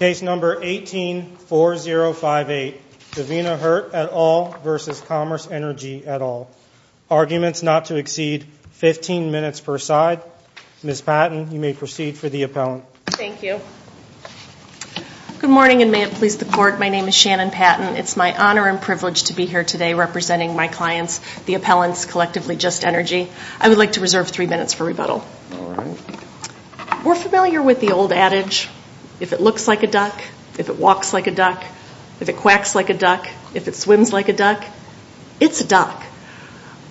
Case number 18-4058, Davina Hurt et al. v. Commerce Energy et al. Arguments not to exceed 15 minutes per side. Ms. Patton, you may proceed for the appellant. Thank you. Good morning, and may it please the Court, my name is Shannon Patton. It's my honor and privilege to be here today representing my clients, the appellants, collectively Just Energy. If it looks like a duck, if it walks like a duck, if it quacks like a duck, if it swims like a duck, it's a duck.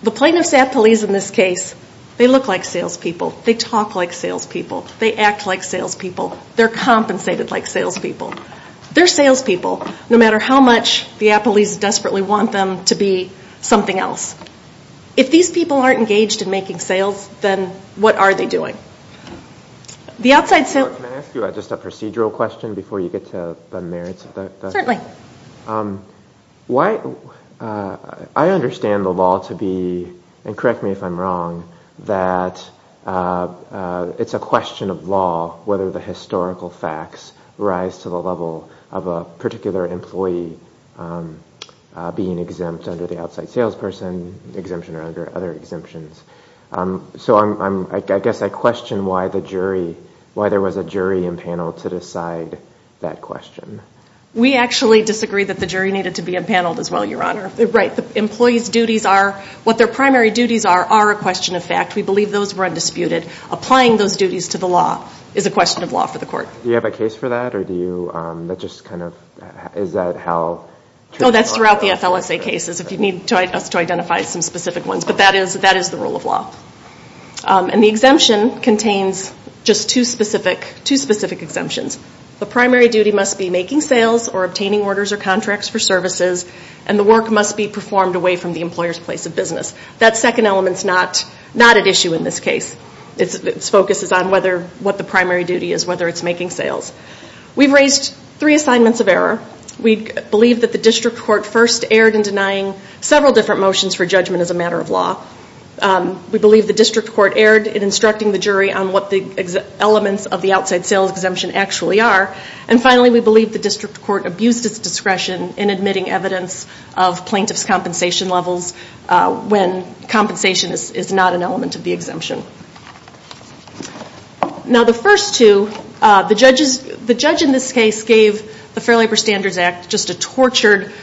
The plaintiff's appellees in this case, they look like salespeople. They talk like salespeople. They act like salespeople. They're compensated like salespeople. They're salespeople, no matter how much the appellees desperately want them to be something else. If these people aren't engaged in making sales, then what are they doing? Can I ask you just a procedural question before you get to the merits of that? Certainly. I understand the law to be, and correct me if I'm wrong, that it's a question of law whether the historical facts rise to the level of a particular employee being exempt under the outside salesperson exemption or other exemptions. So I guess I question why there was a jury impaneled to decide that question. We actually disagree that the jury needed to be impaneled as well, Your Honor. What their primary duties are, are a question of fact. We believe those were undisputed. Applying those duties to the law is a question of law for the court. Do you have a case for that? That's throughout the FLSA cases, if you need us to identify some specific ones. But that is the rule of law. And the exemption contains just two specific exemptions. The primary duty must be making sales or obtaining orders or contracts for services, and the work must be performed away from the employer's place of business. That second element is not at issue in this case. Its focus is on what the primary duty is, whether it's making sales. We've raised three assignments of error. We believe that the district court first erred in denying several different motions for judgment as a matter of law. We believe the district court erred in instructing the jury on what the elements of the outside sales exemption actually are. And finally, we believe the district court abused its discretion in admitting evidence of plaintiff's compensation levels when compensation is not an element of the exemption. Now the first two, the judge in this case gave the Fair Labor Standards Act just a tortured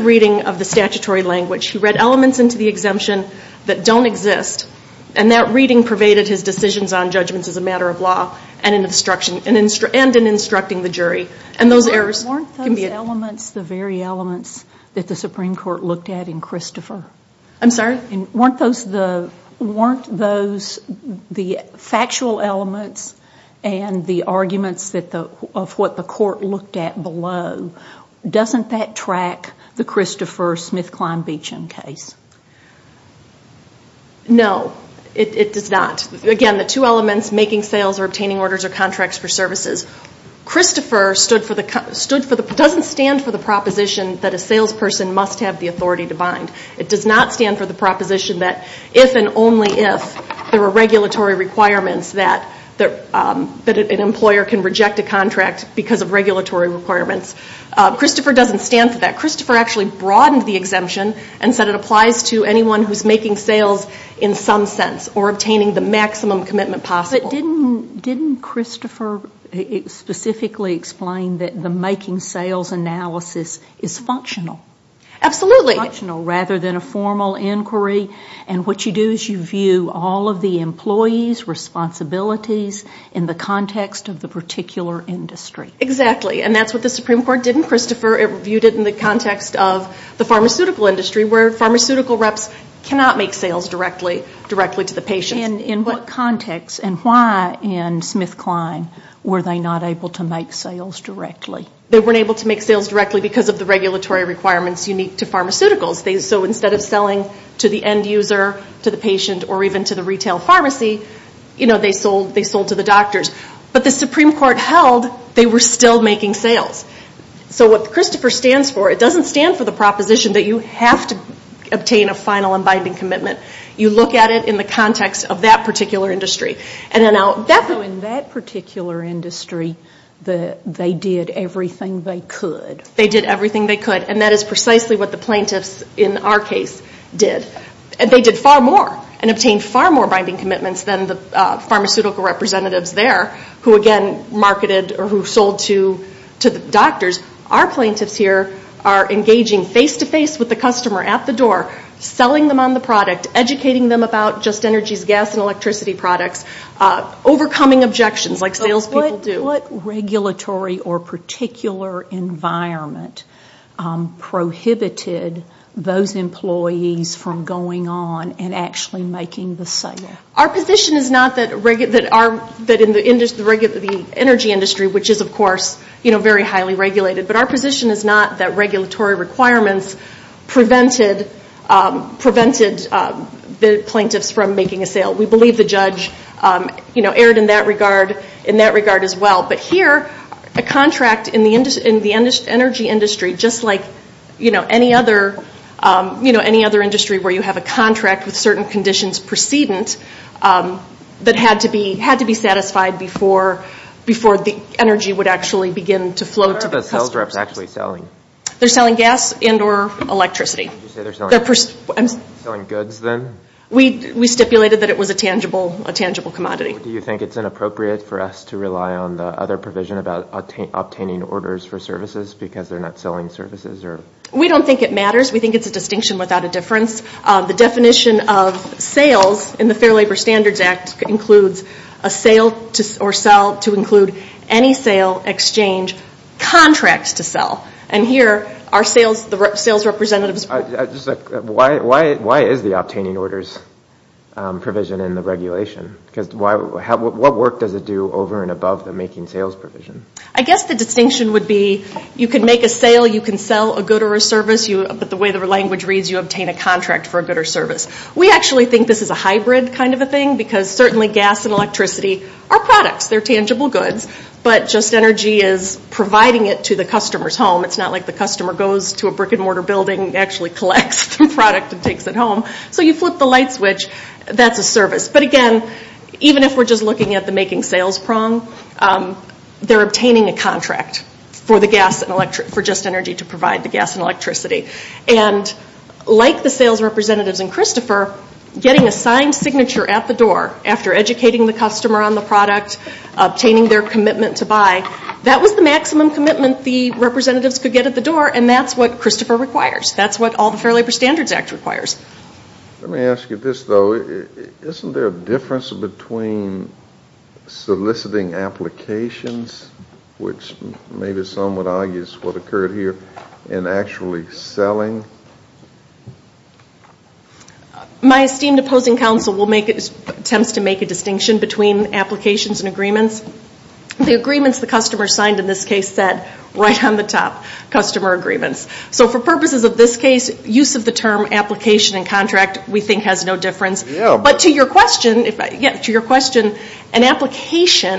reading of the statutory language. He read elements into the exemption that don't exist, and that reading pervaded his decisions on judgments as a matter of law and in instructing the jury. And those errors can be... Weren't those elements the very elements that the Supreme Court looked at in Christopher? I'm sorry? Weren't those the factual elements and the arguments of what the court looked at below? Doesn't that track the Christopher Smith-Klein Beacham case? No, it does not. Again, the two elements, making sales or obtaining orders or contracts for services. Christopher doesn't stand for the proposition that a salesperson must have the authority to bind. It does not stand for the proposition that if and only if there are regulatory requirements that an employer can reject a contract because of regulatory requirements. Christopher doesn't stand for that. Christopher actually broadened the exemption and said it applies to anyone who's making sales in some sense or obtaining the maximum commitment possible. But didn't Christopher specifically explain that the making sales analysis is functional? Absolutely. Rather than a formal inquiry, and what you do is you view all of the employees' responsibilities in the context of the particular industry. Exactly, and that's what the Supreme Court did in Christopher. It reviewed it in the context of the pharmaceutical industry where pharmaceutical reps cannot make sales directly to the patients. And in what context and why in Smith-Klein were they not able to make sales directly? They weren't able to make sales directly because of the regulatory requirements unique to pharmaceuticals. So instead of selling to the end user, to the patient or even to the retail pharmacy, you know, they sold to the doctors. But the Supreme Court held they were still making sales. So what Christopher stands for, it doesn't stand for the proposition that you have to obtain a final and binding commitment. You look at it in the context of that particular industry. So in that particular industry, they did everything they could. They did everything they could, and that is precisely what the plaintiffs in our case did. And they did far more and obtained far more binding commitments than the pharmaceutical representatives there, who again marketed or who sold to the doctors. Our plaintiffs here are engaging face-to-face with the customer at the door, selling them on the product, educating them about Just Energy's gas and electricity products, overcoming objections like sales people do. So what regulatory or particular environment prohibited those employees from making sales? What was going on in actually making the sale? Our position is not that in the energy industry, which is of course, you know, very highly regulated, but our position is not that regulatory requirements prevented the plaintiffs from making a sale. We believe the judge, you know, erred in that regard as well. But here, a contract in the energy industry, just like, you know, any other, you know, any other industry where you have a contract with certain conditions precedent that had to be satisfied before the energy would actually begin to flow to the customers. Where are the sales reps actually selling? They're selling gas and or electricity. Did you say they're selling goods then? We stipulated that it was a tangible commodity. Do you think it's inappropriate for us to rely on the other provision about obtaining orders for services because they're not selling services? We don't think it matters. We think it's a distinction without a difference. The definition of sales in the Fair Labor Standards Act includes a sale or sell to include any sale, exchange, contract to sell. Why is the obtaining orders provision in the regulation? Because what work does it do over and above the making sales provision? I guess the distinction would be you can make a sale, you can sell a good or a service, but the way the language reads, you obtain a contract for a good or service. We actually think this is a hybrid kind of a thing because certainly gas and electricity are products, they're tangible goods, but Just Energy is providing it to the customer's home. It's not like the customer goes to a brick and mortar building and actually collects the product and takes it home. So you flip the light switch, that's a service. But again, even if we're just looking at the making sales prong, they're obtaining a contract for Just Energy to provide the gas and electricity. And like the sales representatives and Christopher, getting a signed signature at the door, after educating the customer on the product, obtaining their commitment to buy, that was the maximum commitment the representatives could get at the door, and that's what Christopher requires. That's what all the Fair Labor Standards Act requires. Let me ask you this, though. Isn't there a difference between soliciting applications, which maybe some would argue is what occurred here, and actually selling? My esteemed opposing counsel will make attempts to make a distinction between applications and agreements. The agreements the customer signed in this case said right on the top, customer agreements. So for purposes of this case, use of the term application and contract we think has no difference. But to your question, an application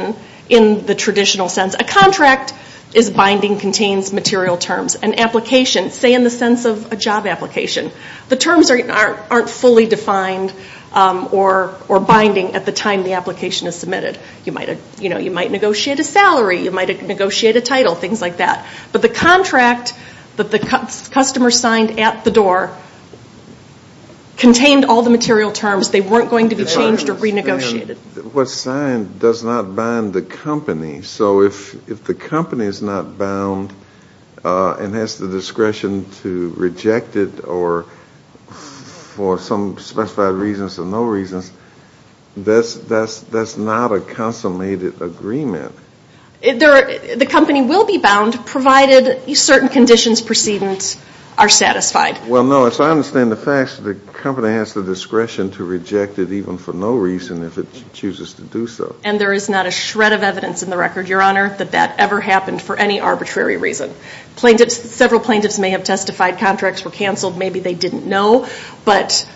in the traditional sense, a contract is binding contains material terms. An application, say in the sense of a job application, the terms aren't fully defined or binding at the time the application is submitted. You might negotiate a salary, you might negotiate a title, things like that. But the contract that the customer signed at the door contained all the material terms. They weren't going to be changed or renegotiated. What's signed does not bind the company. So if the company is not bound and has the discretion to reject it for some specified reasons or no reasons, that's not a consummated agreement. The company will be bound provided certain conditions precedence are satisfied. Well, no, as I understand the facts, the company has the discretion to reject it even for no reason if it chooses to do so. And there is not a shred of evidence in the record, Your Honor, that that ever happened for any arbitrary reason. Several plaintiffs may have testified contracts were canceled, maybe they didn't know, but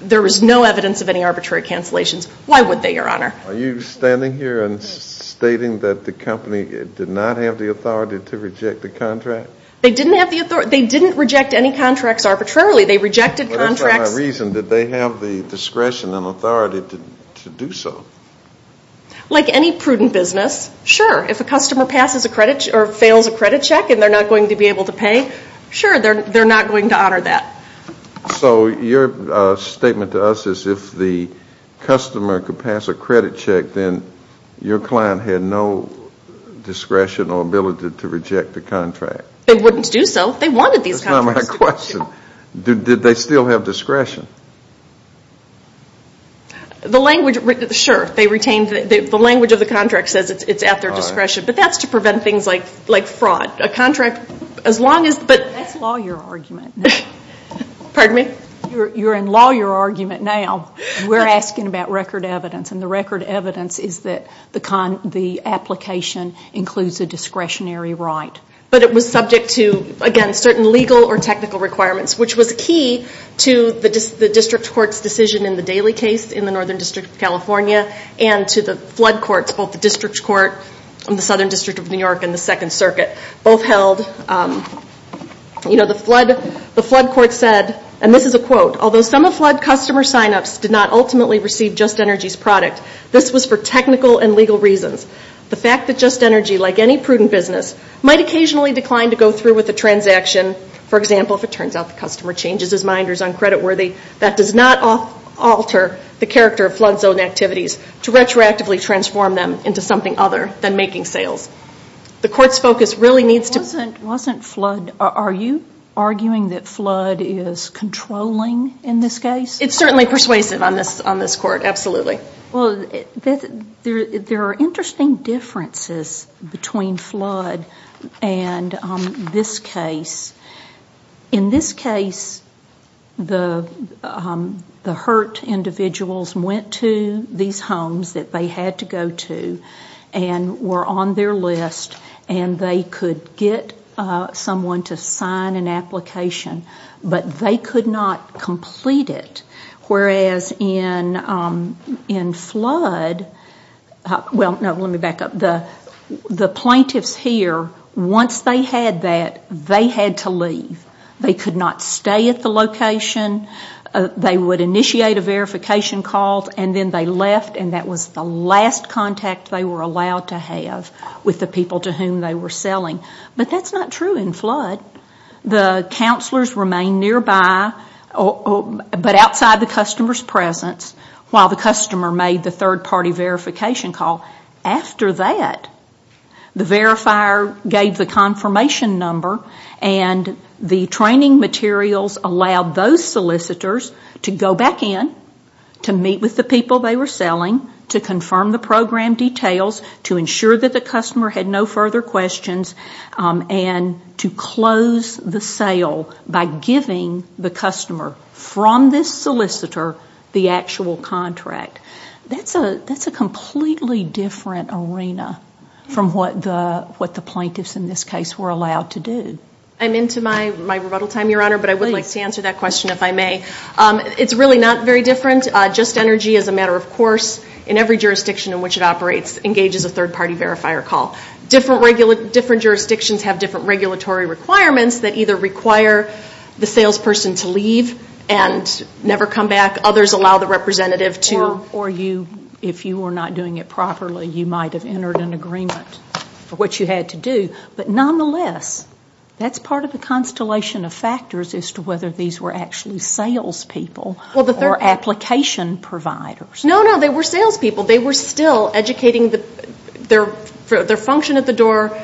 there is no evidence of any arbitrary cancellations. Why would they, Your Honor? Are you standing here and stating that the company did not have the authority to reject the contract? They didn't have the authority. They didn't reject any contracts arbitrarily. They rejected contracts. That's not my reason. Did they have the discretion and authority to do so? Like any prudent business, sure, if a customer passes a credit or fails a credit check and they're not going to be able to pay, sure, they're not going to honor that. So your statement to us is if the customer could pass a credit check, then your client had no discretion or ability to reject the contract. They wouldn't do so. They wanted these contracts. That's not my question. Did they still have discretion? Sure. The language of the contract says it's at their discretion, but that's to prevent things like fraud. That's lawyer argument. You're in lawyer argument now. We're asking about record evidence. And the record evidence is that the application includes a discretionary right. But it was subject to, again, certain legal or technical requirements, which was key to the district court's decision in the Daley case in the Northern District of California and to the flood courts, both the district court and the Southern District of New York and the Second Circuit. Both held, you know, the flood court said, and this is a quote, although some of flood customer signups did not ultimately receive Just Energy's product, this was for technical and legal reasons. The fact that Just Energy, like any prudent business, might occasionally decline to go through with a transaction, for example, if it turns out the customer changes his mind or is uncreditworthy, that does not alter the character of flood zone activities to retroactively transform them into something other than making sales. The court's focus really needs to... There are interesting differences between flood and this case. In this case, the hurt individuals went to these homes that they had to go to and were on their list, and they could get someone to sign an application, but they could not complete it. Whereas in flood, well, no, let me back up. The plaintiffs here, once they had that, they had to leave. They could not stay at the location. They would initiate a verification call, and then they left, and that was the last contact they were allowed to have with the people to whom they were selling. But that's not true in flood. The counselors remained nearby, but outside the customer's presence, while the customer made the third-party verification call. After that, the verifier gave the confirmation number, and the training materials allowed those solicitors to go back in, to meet with the people they were selling, to confirm the program details, to ensure that the customer had no further questions, and to close the sale by giving the customer from this solicitor the actual contract. That's a completely different arena from what the plaintiffs in this case were allowed to do. I'm into my rebuttal time, Your Honor, but I would like to answer that question, if I may. It's really not very different. Just Energy, as a matter of course, in every jurisdiction in which it operates, engages a third-party verifier call. Different jurisdictions have different regulatory requirements that either require the salesperson to leave and never come back, others allow the representative to... That's part of the constellation of factors as to whether these were actually salespeople or application providers. No, no, they were salespeople. Their function at the door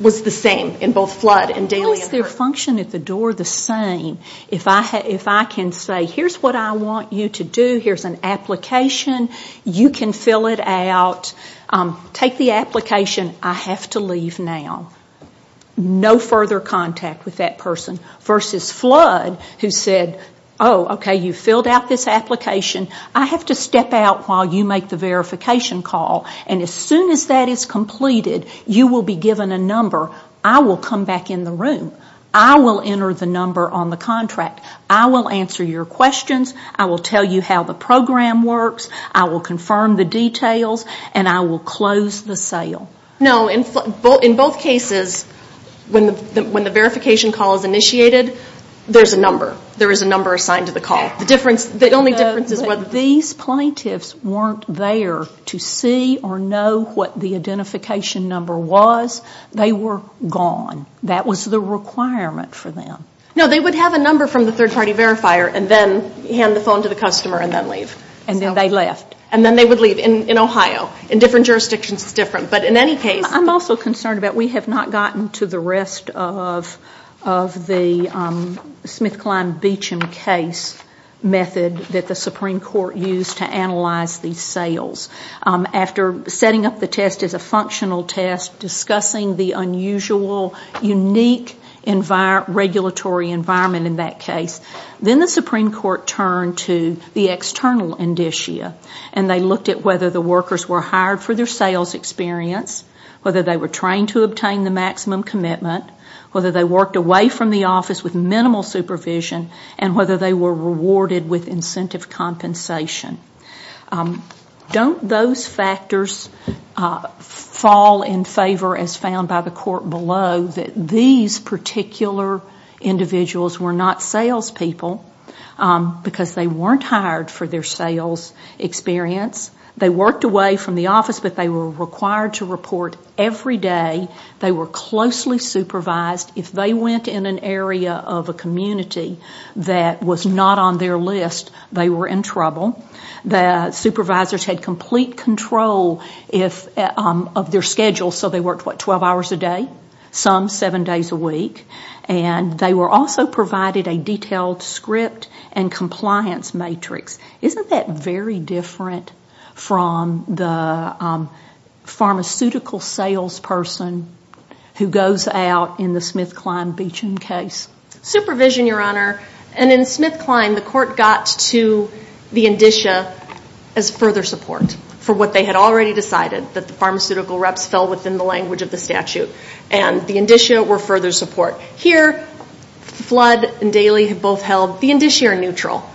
was the same in both flood and daily. How is their function at the door the same? If I can say, here's what I want you to do, here's an application, you can fill it out, take the application, I have to leave now, no further contact with that person. Versus flood, who said, oh, okay, you filled out this application, I have to step out while you make the verification call, and as soon as that is completed, you will be given a number, I will come back in the room, I will enter the number on the contract, I will answer your questions, I will tell you how the program works, I will confirm the details, and I will close the sale. No, in both cases, when the verification call is initiated, there's a number. There is a number assigned to the call. These plaintiffs weren't there to see or know what the identification number was. They were gone. That was the requirement for them. No, they would have a number from the third party verifier and then hand the phone to the customer and then leave. And then they left. And then they would leave in Ohio. In different jurisdictions it's different. I'm also concerned about we have not gotten to the rest of the SmithKline Beecham case method that the Supreme Court used to analyze these sales. After setting up the test as a functional test, discussing the unusual, unique regulatory environment in that case, then the Supreme Court turned to the external indicia and they looked at whether the workers were hired for their sales experience, whether they were trained to obtain the maximum commitment, whether they worked away from the office with minimal supervision, and whether they were rewarded with incentive compensation. Don't those factors fall in favor, as found by the court below, that these particular individuals were not salespeople because they weren't hired for their sales experience? They worked away from the office, but they were required to report every day, they were closely supervised. If they went in an area of a community that was not on their list, they were in trouble. The supervisors had complete control of their schedule, so they worked, what, 12 hours a day? Some, seven days a week. And they were also provided a detailed script and compliance matrix. Isn't that very different from the pharmaceutical salesperson who goes out in the SmithKline Beecham case? Supervision, Your Honor, and in SmithKline, the court got to the indicia as further support for what they had already decided, that the pharmaceutical reps fell within the language of the statute. Here, Flood and Daly have both held the indicia neutral.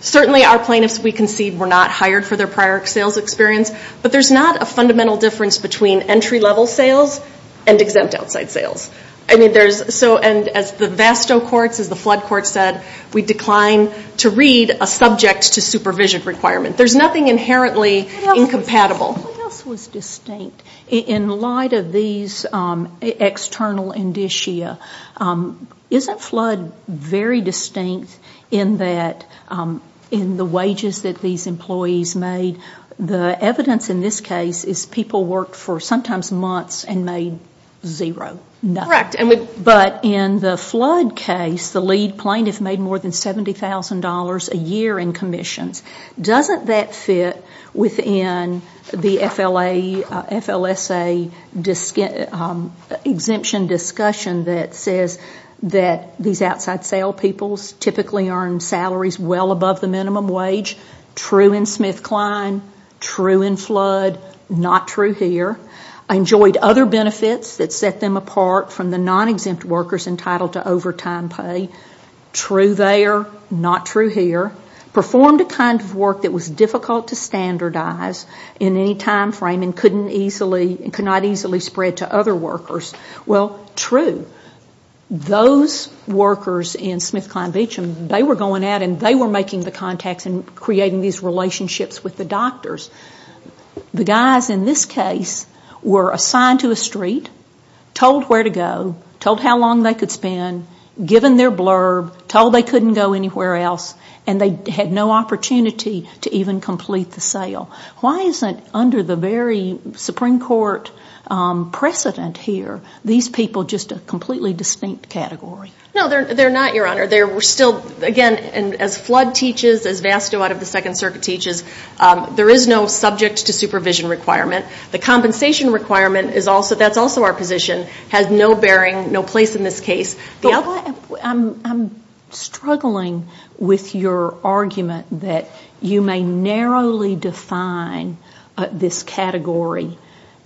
Certainly our plaintiffs, we concede, were not hired for their prior sales experience, but there's not a fundamental difference between entry-level sales and exempt outside sales. And as the Vasto courts, as the Flood courts said, we decline to read a subject-to-supervision requirement. There's nothing inherently incompatible. What else was distinct in light of these external indicia? Isn't Flood very distinct in the wages that these employees made? The evidence in this case is people worked for sometimes months and made zero. But in the Flood case, the lead plaintiff made more than $70,000 a year in commissions. Doesn't that fit within the FLSA exemption discussion that says that these outside-sale peoples typically earned salaries well above the minimum wage? True in SmithKline, true in Flood, not true here. Enjoyed other benefits that set them apart from the non-exempt workers entitled to overtime pay. True there, not true here. Performed a kind of work that was difficult to standardize in any time frame and could not easily spread to other workers. Well, true. Those workers in SmithKline Beach, they were going out and they were making the contacts and creating these relationships with the doctors. The guys in this case were assigned to a street, told where to go, told how long they could spend, given their blurb, told they couldn't go anywhere else, and they had no opportunity to even complete the sale. Why isn't, under the very Supreme Court precedent here, these people just a completely distinct category? No, they're not, Your Honor. Again, as Flood teaches, as Vasto out of the Second Circuit teaches, there is no subject-to-supervision requirement. The compensation requirement is also, that's also our position, has no bearing, no place in this case. I'm struggling with your argument that you may narrowly define this category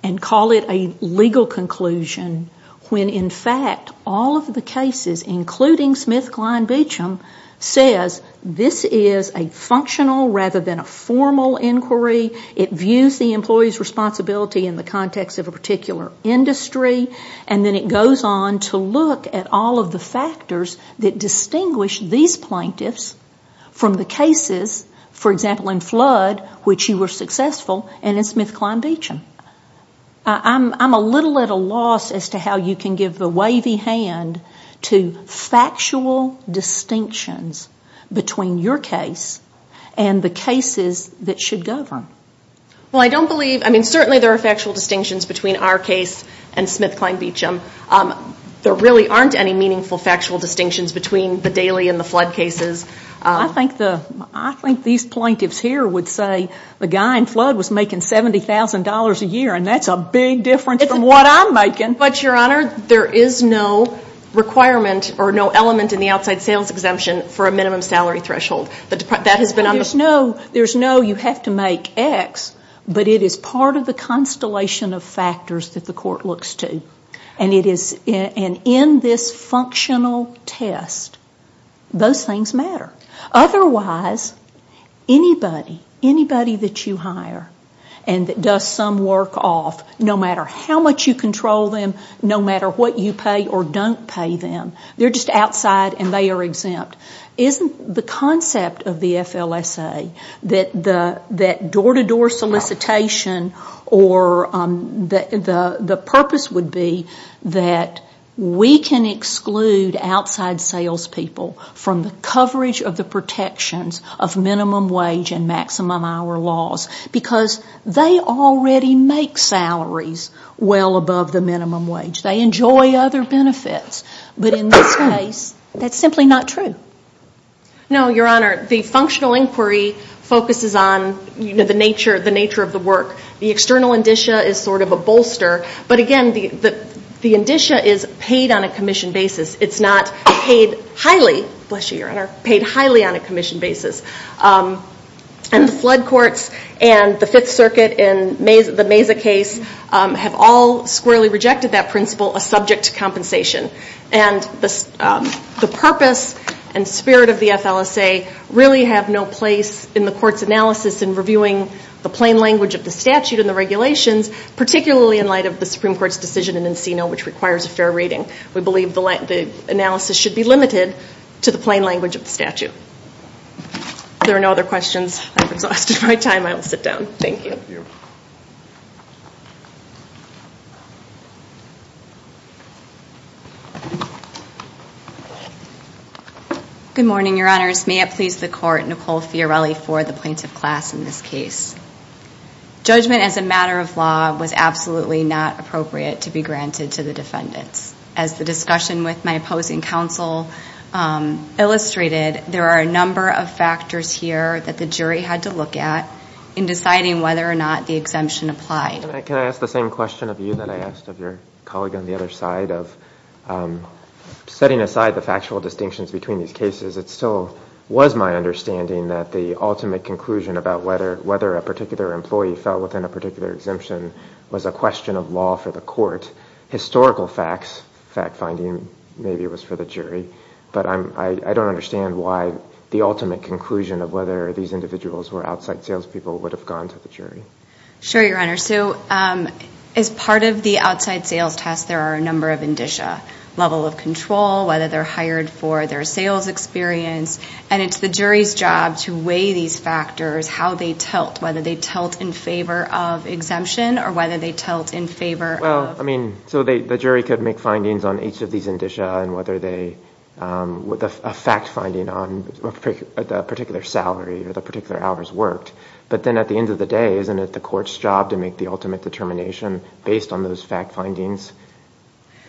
and call it a legal conclusion, when in fact all of the cases, including SmithKline Beacham, says this is a functional rather than a formal inquiry. It views the employee's responsibility in the context of a particular industry, and then it goes on to look at all of the factors that distinguish these plaintiffs from the cases, for example, in Flood, which you were successful, and in SmithKline Beacham. I'm a little at a loss as to how you can give the wavy hand to factual distinctions between your case and the cases that should govern. Well, I don't believe, I mean, certainly there are factual distinctions between our case and SmithKline Beacham. There really aren't any meaningful factual distinctions between the Daly and the Flood cases. I think these plaintiffs here would say the guy in Flood was making $70,000 a year, and that's a big difference from what I'm making. But, Your Honor, there is no requirement or no element in the outside sales exemption for a minimum salary threshold. That has been understood. There's no you have to make X, but it is part of the constellation of factors that the court looks to. And in this functional test, those things matter. Otherwise, anybody, anybody that you hire and that does some work off, no matter how much you control them, no matter what you pay or don't pay them, they're just outside and they are exempt, isn't the concept of the FLSA that the door-to-door solicitation or the purpose would be that we can exclude outside salespeople from the coverage of the protections of minimum wage and maximum hour laws? Because they already make salaries well above the minimum wage. They enjoy other benefits, but in this case, that's simply not true. No, Your Honor, the functional inquiry focuses on the nature of the work. The external indicia is sort of a bolster, but again, the indicia is paid on a commission basis. It's not paid highly, bless you, Your Honor, paid highly on a commission basis. And the Flood courts and the Fifth Circuit and the Mesa case have all squarely rejected that principle. A subject compensation and the purpose and spirit of the FLSA really have no place in the court's analysis in reviewing the plain language of the statute and the regulations, particularly in light of the Supreme Court's decision in Encino, which requires a fair rating. We believe the analysis should be limited to the plain language of the statute. If there are no other questions, I'm exhausted by time. I will sit down. Thank you. Good morning, Your Honors. May it please the court, Nicole Fiorelli for the plaintiff class in this case. Judgment as a matter of law was absolutely not appropriate to be granted to the defendants. As the discussion with my opposing counsel illustrated, there are a number of factors here that the jury had to look at in deciding whether or not the exemption applied. Can I ask the same question of you that I asked of your colleague on the other side of setting aside the factual distinctions between these cases? It still was my understanding that the ultimate conclusion about whether a particular employee fell within a particular exemption was a question of law for the court. Historical facts, fact-finding, maybe it was for the jury, but I don't understand why the ultimate conclusion of whether these individuals were outside salespeople would have gone to the jury. Sure, Your Honor. So as part of the outside sales test, there are a number of indicia, level of control, whether they're hired for their sales experience. And it's the jury's job to weigh these factors, how they tilt, whether they tilt in favor of exemption or whether they tilt in favor of... Well, I mean, so the jury could make findings on each of these indicia and whether they, a fact-finding on a particular salary or the particular hours worked. But then at the end of the day, isn't it the court's job to make the ultimate determination based on those fact findings?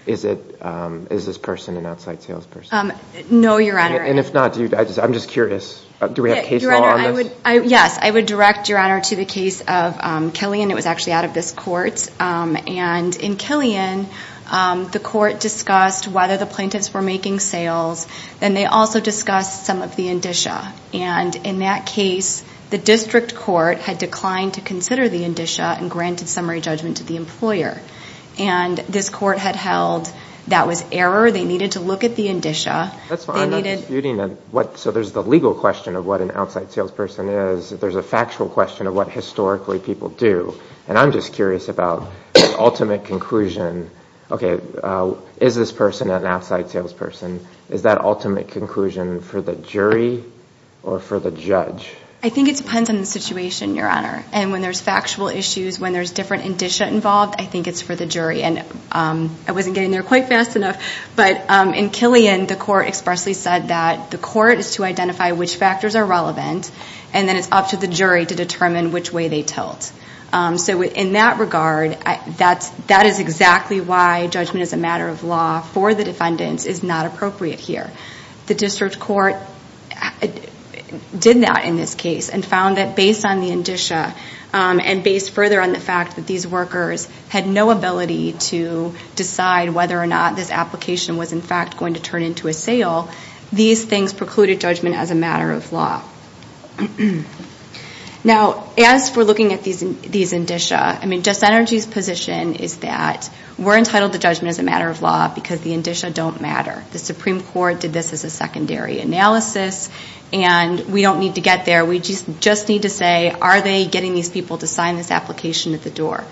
Is this person an outside salesperson? No, Your Honor. And if not, I'm just curious, do we have case law on this? Yes, I would direct, Your Honor, to the case of Killian. It was actually out of this court, and in Killian, the court discussed whether the plaintiffs were making sales. Then they also discussed some of the indicia. And in that case, the district court had declined to consider the indicia and granted summary judgment to the employer. And this court had held that was error. They needed to look at the indicia. That's fine. I'm not disputing that. So there's the legal question of what an outside salesperson is. There's a factual question of what historically people do. And I'm just curious about the ultimate conclusion. Okay, is this person an outside salesperson? Is that ultimate conclusion for the jury or for the judge? I think it depends on the situation, Your Honor. And when there's factual issues, when there's different indicia involved, I think it's for the jury. And I wasn't getting there quite fast enough, but in Killian, the court expressly said that the court is to identify which factors are relevant, and then it's up to the jury to determine which way they tilt. So in that regard, that is exactly why judgment as a matter of law for the defendants is not appropriate here. The district court did not in this case, and found that based on the indicia, and based further on the fact that these workers had no ability to decide whether or not this application was in fact going to turn into a sale, these things precluded judgment as a matter of law. Now, as we're looking at these indicia, I mean, Justice Energy's position is that we're entitled to judgment as a matter of law because the indicia don't matter. The Supreme Court did this as a secondary analysis, and we don't need to get there. We just need to say, are they getting these people to sign this application at the door?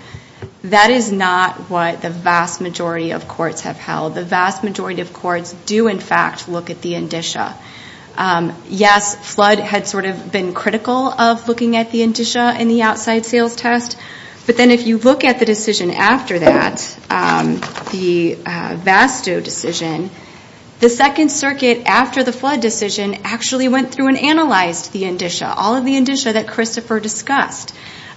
That is not what the vast majority of courts have held. The vast majority of courts do in fact look at the indicia. Yes, Flood had sort of been critical of looking at the indicia in the outside sales test, but then if you look at the decision after that, the Vasto decision, the Second Circuit after the Flood decision actually went through and analyzed the indicia, all of the indicia that Christopher discussed.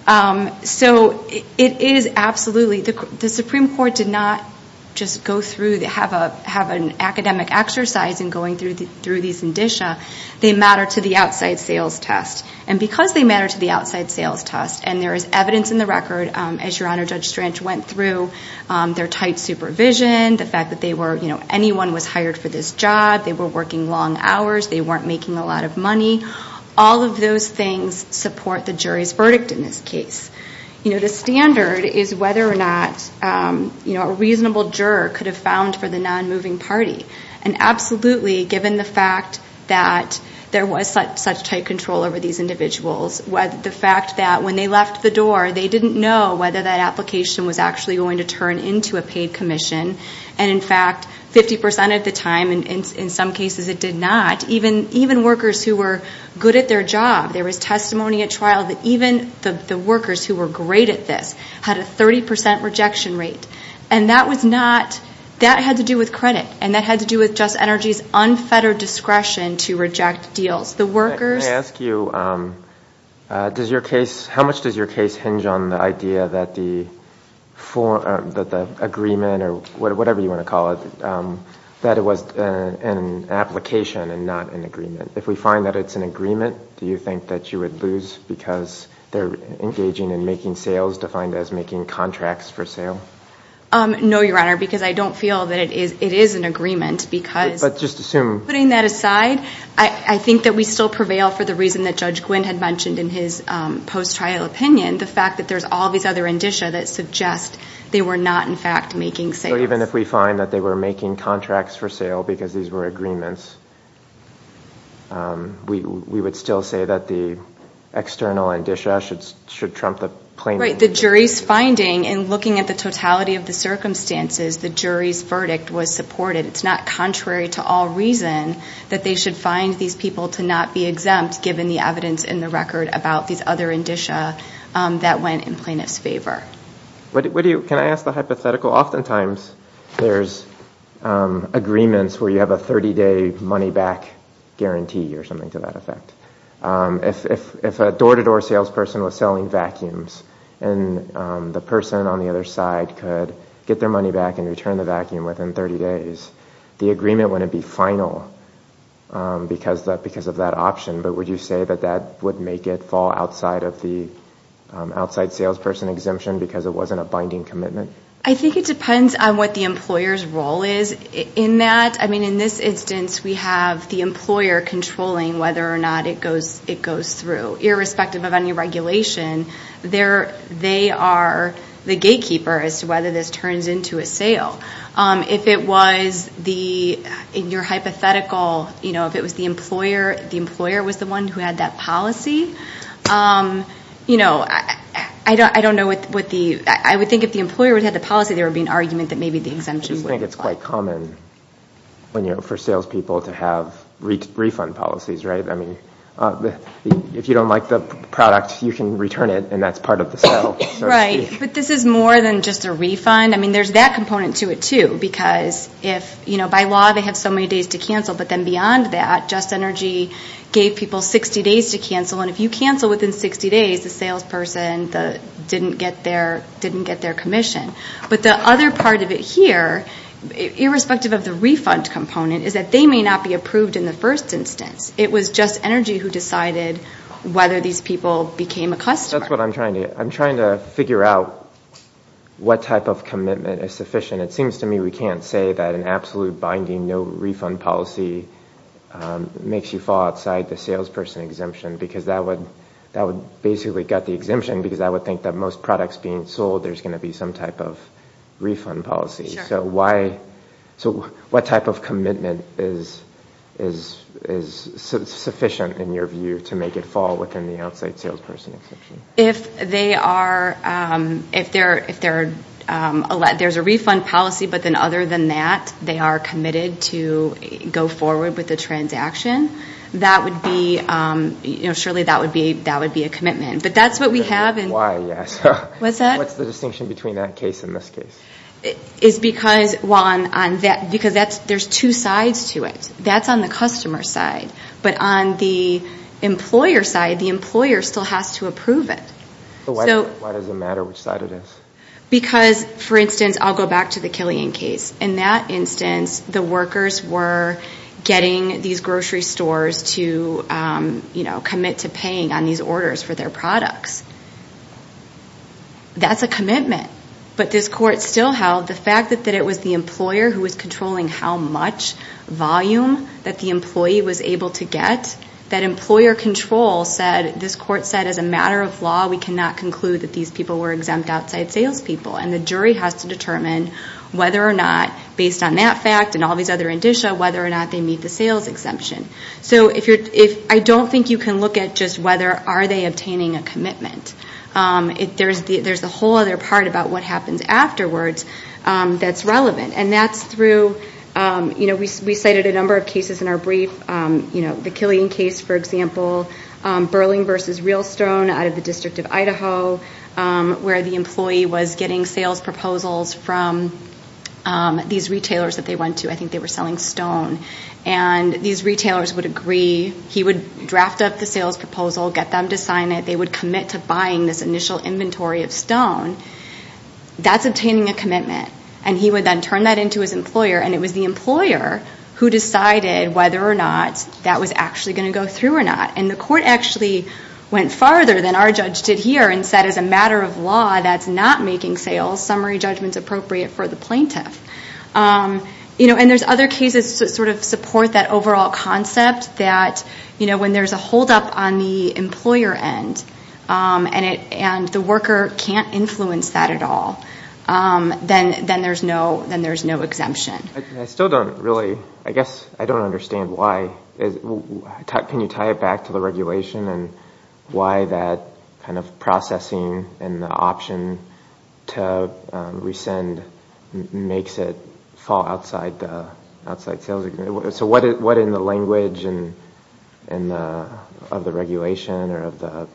So it is absolutely, the Supreme Court did not just go through, have an academic exercise in going through these indicia. They matter to the outside sales test, and because they matter to the outside sales test, and there is evidence in the record, as Your Honor, Judge Strange went through, their tight supervision, the fact that anyone was hired for this job, they were working long hours, they weren't making a lot of money, all of those things support the jury's verdict in this case. The standard is whether or not a reasonable juror could have found for the non-moving party, and absolutely, given the fact that there was such tight control over these individuals, the fact that when they left the door, they didn't know whether that application was actually going to turn into a paid commission, and in fact, 50% of the time, and in some cases it did not, even workers who were good at their job, there was testimony at trial that even the workers who were great at this had a 30% rejection rate, and that was not, that had to do with credit, and that had to do with Just Energy's unfettered discretion to reject deals. The workers... How much does your case hinge on the idea that the agreement, or whatever you want to call it, that it was an application and not an agreement? If we find that it's an agreement, do you think that you would lose because they're engaging in making sales defined as making contracts for sale? No, Your Honor, because I don't feel that it is an agreement, because... But just assume... Putting that aside, I think that we still prevail for the reason that Judge Gwynne had mentioned in his post-trial opinion, the fact that there's all these other indicia that suggest they were not, in fact, making sales. So even if we find that they were making contracts for sale because these were agreements, we would still say that the external indicia should trump the claim... Right, the jury's finding, in looking at the totality of the circumstances, the jury's verdict was supported. It's not contrary to all reason that they should find these people to not be exempt, given the evidence in the record about these other indicia that went in plaintiff's favor. Can I ask the hypothetical? Oftentimes there's agreements where you have a 30-day money-back guarantee or something to that effect. If a door-to-door salesperson was selling vacuums and the person on the other side could get their money back and return the vacuum within 30 days, the agreement wouldn't be final because of that option, but would you say that that would make it fall outside of the outside salesperson exemption because it wasn't a binding commitment? I think it depends on what the employer's role is in that. I mean, in this instance, we have the employer controlling whether or not it goes through, irrespective of any regulation. They are the gatekeeper as to whether this turns into a sale. In your hypothetical, if the employer was the one who had that policy, I would think if the employer had the policy, there would be an argument that maybe the exemption would... I just think it's quite common for salespeople to have refund policies. If you don't like the product, you can return it, and that's part of the sale, so to speak. Right, but this is more than just a refund. I mean, there's that component to it, too, because by law they have so many days to cancel, but then beyond that, Just Energy gave people 60 days to cancel, and if you cancel within 60 days, the salesperson didn't get their commission. But the other part of it here, irrespective of the refund component, is that they may not be approved in the first instance. It was Just Energy who decided whether these people became a customer. That's what I'm trying to do. I'm trying to figure out what type of commitment is sufficient. It seems to me we can't say that an absolute binding no refund policy makes you fall outside the salesperson exemption, because that would basically gut the exemption, because I would think that most products being sold, there's going to be some type of refund policy. So what type of commitment is sufficient, in your view, to make it fall within the outside salesperson exemption? If there's a refund policy, but then other than that, they are committed to go forward with the transaction, surely that would be a commitment. But that's what we have. What's the distinction between that case and this case? There's two sides to it. That's on the customer side. But on the employer side, the employer still has to approve it. Why does it matter which side it is? Because, for instance, I'll go back to the Killian case. In that instance, the workers were getting these grocery stores to commit to paying on these orders for their products. That's a commitment. But this court still held the fact that it was the employer who was controlling how much volume that the employee was able to get, that employer control said, this court said, as a matter of law, we cannot conclude that these people were exempt outside salespeople. And the jury has to determine whether or not, based on that fact and all these other indicia, whether or not they meet the sales exemption. So I don't think you can look at just whether are they obtaining a commitment. There's a whole other part about what happens afterwards that's relevant. And that's through, we cited a number of cases in our brief. The Killian case, for example, Burling v. Real Stone out of the District of Idaho, where the employee was getting sales proposals from these retailers that they went to. I think they were selling stone. And these retailers would agree. He would draft up the sales proposal, get them to sign it. They would commit to buying this initial inventory of stone. That's obtaining a commitment. And he would then turn that into his employer. And it was the employer who decided whether or not that was actually going to go through or not. And the court actually went farther than our judge did here and said, as a matter of law, that's not making sales. Summary judgment's appropriate for the plaintiff. And there's other cases that sort of support that overall concept, that when there's a holdup on the employer end and the worker can't influence that at all, then there's no exemption. I still don't really, I guess, I don't understand why. Can you tie it back to the regulation and why that kind of processing and the option to rescind makes it fall outside sales? So what in the language of the regulation or of the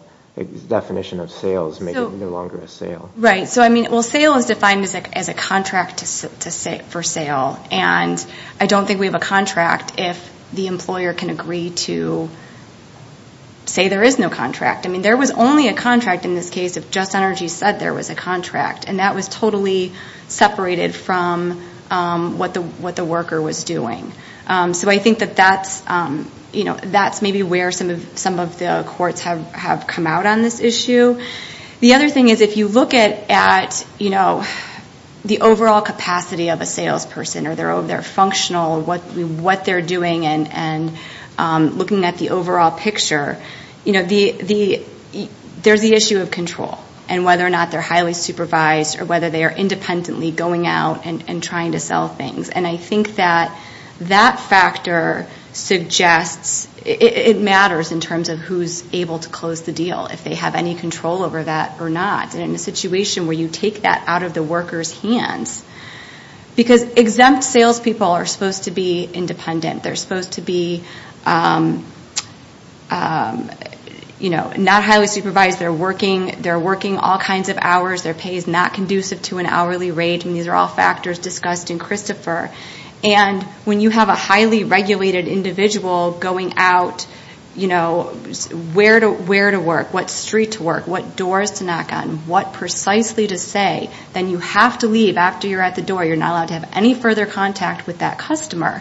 definition of sales make it no longer a sale? Right. Well, sale is defined as a contract for sale. And I don't think we have a contract if the employer can agree to say there is no contract. I mean, there was only a contract in this case if Just Energy said there was a contract. And that was totally separated from what the worker was doing. So I think that that's maybe where some of the courts have come out on this issue. The other thing is if you look at the overall capacity of a salesperson or their functional, what they're doing and looking at the overall picture, you know, there's the issue of control and whether or not they're highly supervised or whether they are independently going out and trying to sell things. And I think that that factor suggests it matters in terms of who's able to close the deal, if they have any control over that or not. And in a situation where you take that out of the worker's hands, because exempt salespeople are supposed to be independent. They're supposed to be, you know, not highly supervised. They're working all kinds of hours. Their pay is not conducive to an hourly rate. And these are all factors discussed in Christopher. And when you have a highly regulated individual going out, you know, where to work, what street to work, what doors to knock on, what precisely to say, then you have to leave after you're at the door. You're not allowed to have any further contact with that customer.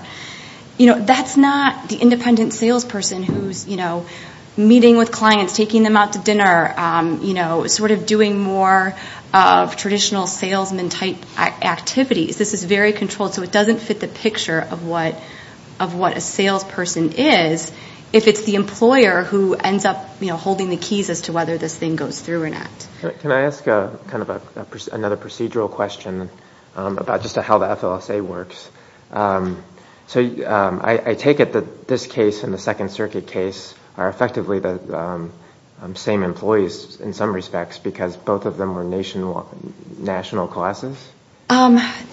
You know, that's not the independent salesperson who's, you know, meeting with clients, taking them out to dinner, you know, sort of doing more of traditional salesman-type activities. This is very controlled, so it doesn't fit the picture of what a salesperson is if it's the employer who ends up, you know, holding the keys as to whether this thing goes through or not. Can I ask kind of another procedural question about just how the FLSA works? So I take it that this case and the Second Circuit case are effectively the same employees in some respects, because both of them were national classes?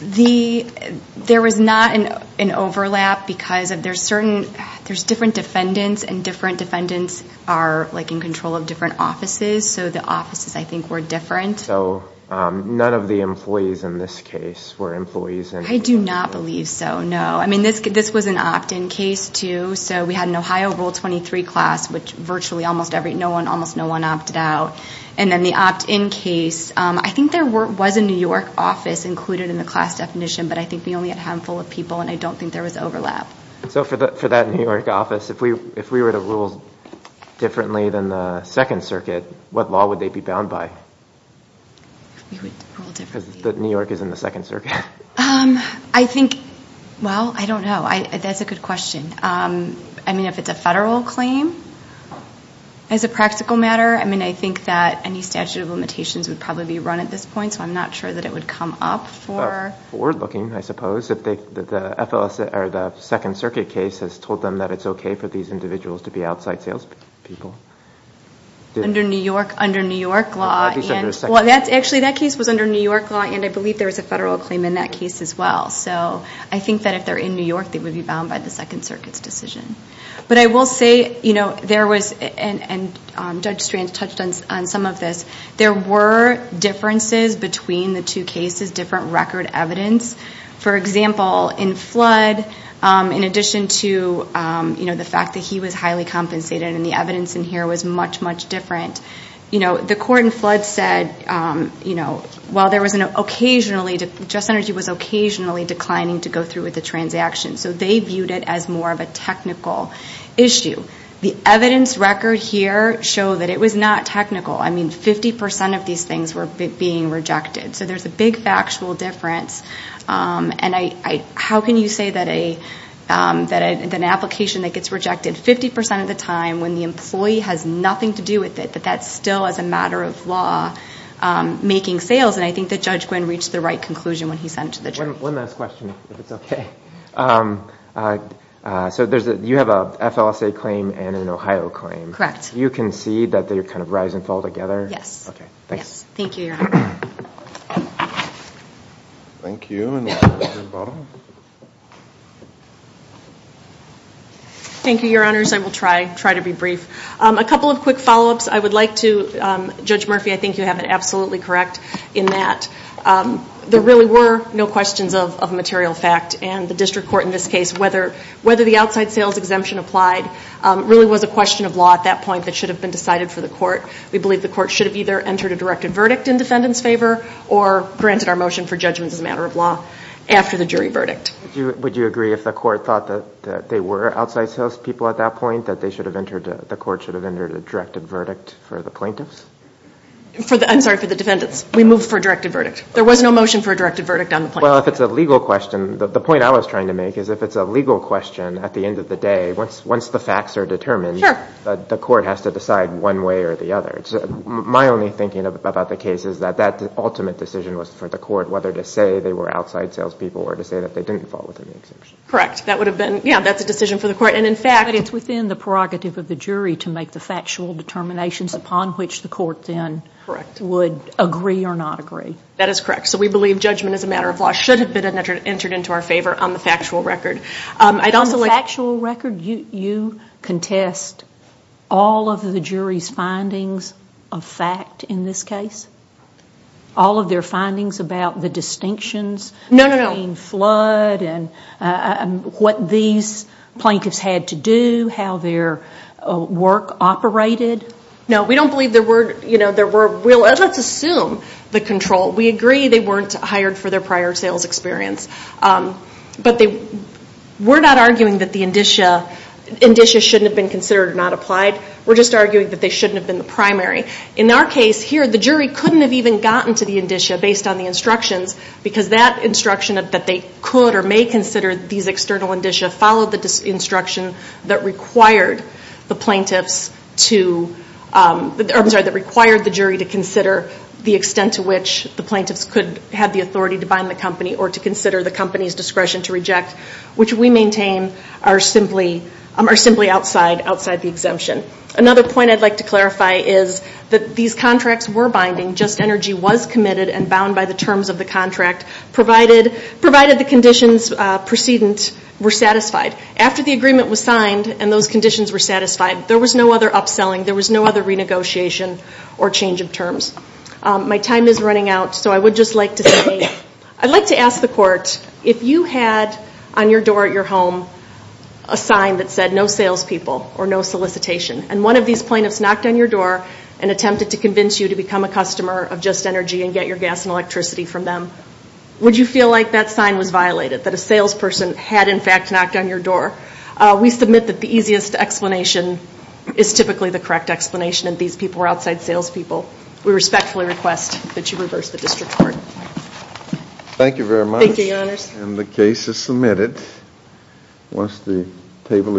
There was not an overlap because there's different defendants and different defendants are, like, in control of different offices. So the offices, I think, were different. So none of the employees in this case were employees? I do not believe so, no. I mean, this was an opt-in case, too. So we had an Ohio Rule 23 class, which virtually almost no one opted out. And then the opt-in case, I think there was a New York office included in the class definition, but I think we only had a handful of people, and I don't think there was overlap. So for that New York office, if we were to rule differently than the Second Circuit, what law would they be bound by? Because New York is in the Second Circuit. Well, I don't know. That's a good question. I mean, if it's a federal claim, as a practical matter, I mean, I think that any statute of limitations would probably be run at this point, so I'm not sure that it would come up for... Forward-looking, I suppose, if the Second Circuit case has told them that it's okay for these individuals to be outside salespeople. Under New York law. Well, actually, that case was under New York law, and I believe there was a federal claim in that case as well. So I think that if they're in New York, they would be bound by the Second Circuit's decision. But I will say, and Judge Strand touched on some of this, there were differences between the two cases, different record evidence. For example, in Flood, in addition to the fact that he was highly compensated, and the evidence in here was much, much different, the court in Flood said, while there was an occasionally... technical issue, the evidence record here showed that it was not technical. I mean, 50 percent of these things were being rejected. So there's a big factual difference. And how can you say that an application that gets rejected 50 percent of the time when the employee has nothing to do with it, that that's still, as a matter of law, making sales? And I think that Judge Gwynne reached the right conclusion when he sent it to the jury. One last question, if it's okay. So you have an FLSA claim and an Ohio claim. Correct. You concede that they kind of rise and fall together? Yes. Thank you, Your Honor. Thank you, Your Honors. I will try to be brief. A couple of quick follow-ups. Judge Murphy, I think you have it absolutely correct in that. There really were no questions of material fact, and the district court in this case, whether the outside sales exemption applied really was a question of law at that point that should have been decided for the court. We believe the court should have either entered a directed verdict in defendant's favor, or granted our motion for judgment as a matter of law after the jury verdict. Would you agree if the court thought that they were outside salespeople at that point, that the court should have entered a directed verdict for the plaintiffs? I'm sorry, for the defendants. We moved for a directed verdict. There was no motion for a directed verdict on the plaintiffs? Well, if it's a legal question, the point I was trying to make is if it's a legal question at the end of the day, once the facts are determined, the court has to decide one way or the other. My only thinking about the case is that that ultimate decision was for the court, whether to say they were outside salespeople or to say that they didn't fall within the exemption. But it's within the prerogative of the jury to make the factual determinations upon which the court then would agree or not agree. That is correct. So we believe judgment as a matter of law should have been entered into our favor on the factual record. On the factual record, you contest all of the jury's findings of fact in this case? All of their findings about the distinctions between flood and what these plaintiffs had to say? What they had to do? How their work operated? No, we don't believe there were... Let's assume the control. We agree they weren't hired for their prior sales experience. But we're not arguing that the indicia shouldn't have been considered or not applied. We're just arguing that they shouldn't have been the primary. In our case here, the jury couldn't have even gotten to the indicia based on the instructions because that instruction that they could or may consider these external indicia followed the instruction that required the plaintiffs to... I'm sorry, that required the jury to consider the extent to which the plaintiffs could have the authority to bind the company or to consider the company's discretion to reject, which we maintain are simply outside the exemption. Another point I'd like to clarify is that these contracts were binding, just energy was committed and bound by the terms of the contract, provided the conditions precedent were satisfied. After the agreement was signed and those conditions were satisfied, there was no other upselling. There was no other renegotiation or change of terms. My time is running out, so I would just like to say, I'd like to ask the court, if you had on your door at your home a sign that said no salespeople or no solicitation, and one of these plaintiffs knocked on your door and attempted to convince you to become a customer of just energy and get your gas and electricity from them, would you feel like that sign was violated, that a salesperson had in fact knocked on your door? We submit that the easiest explanation is typically the correct explanation, and these people were outside salespeople. We respectfully request that you reverse the district court.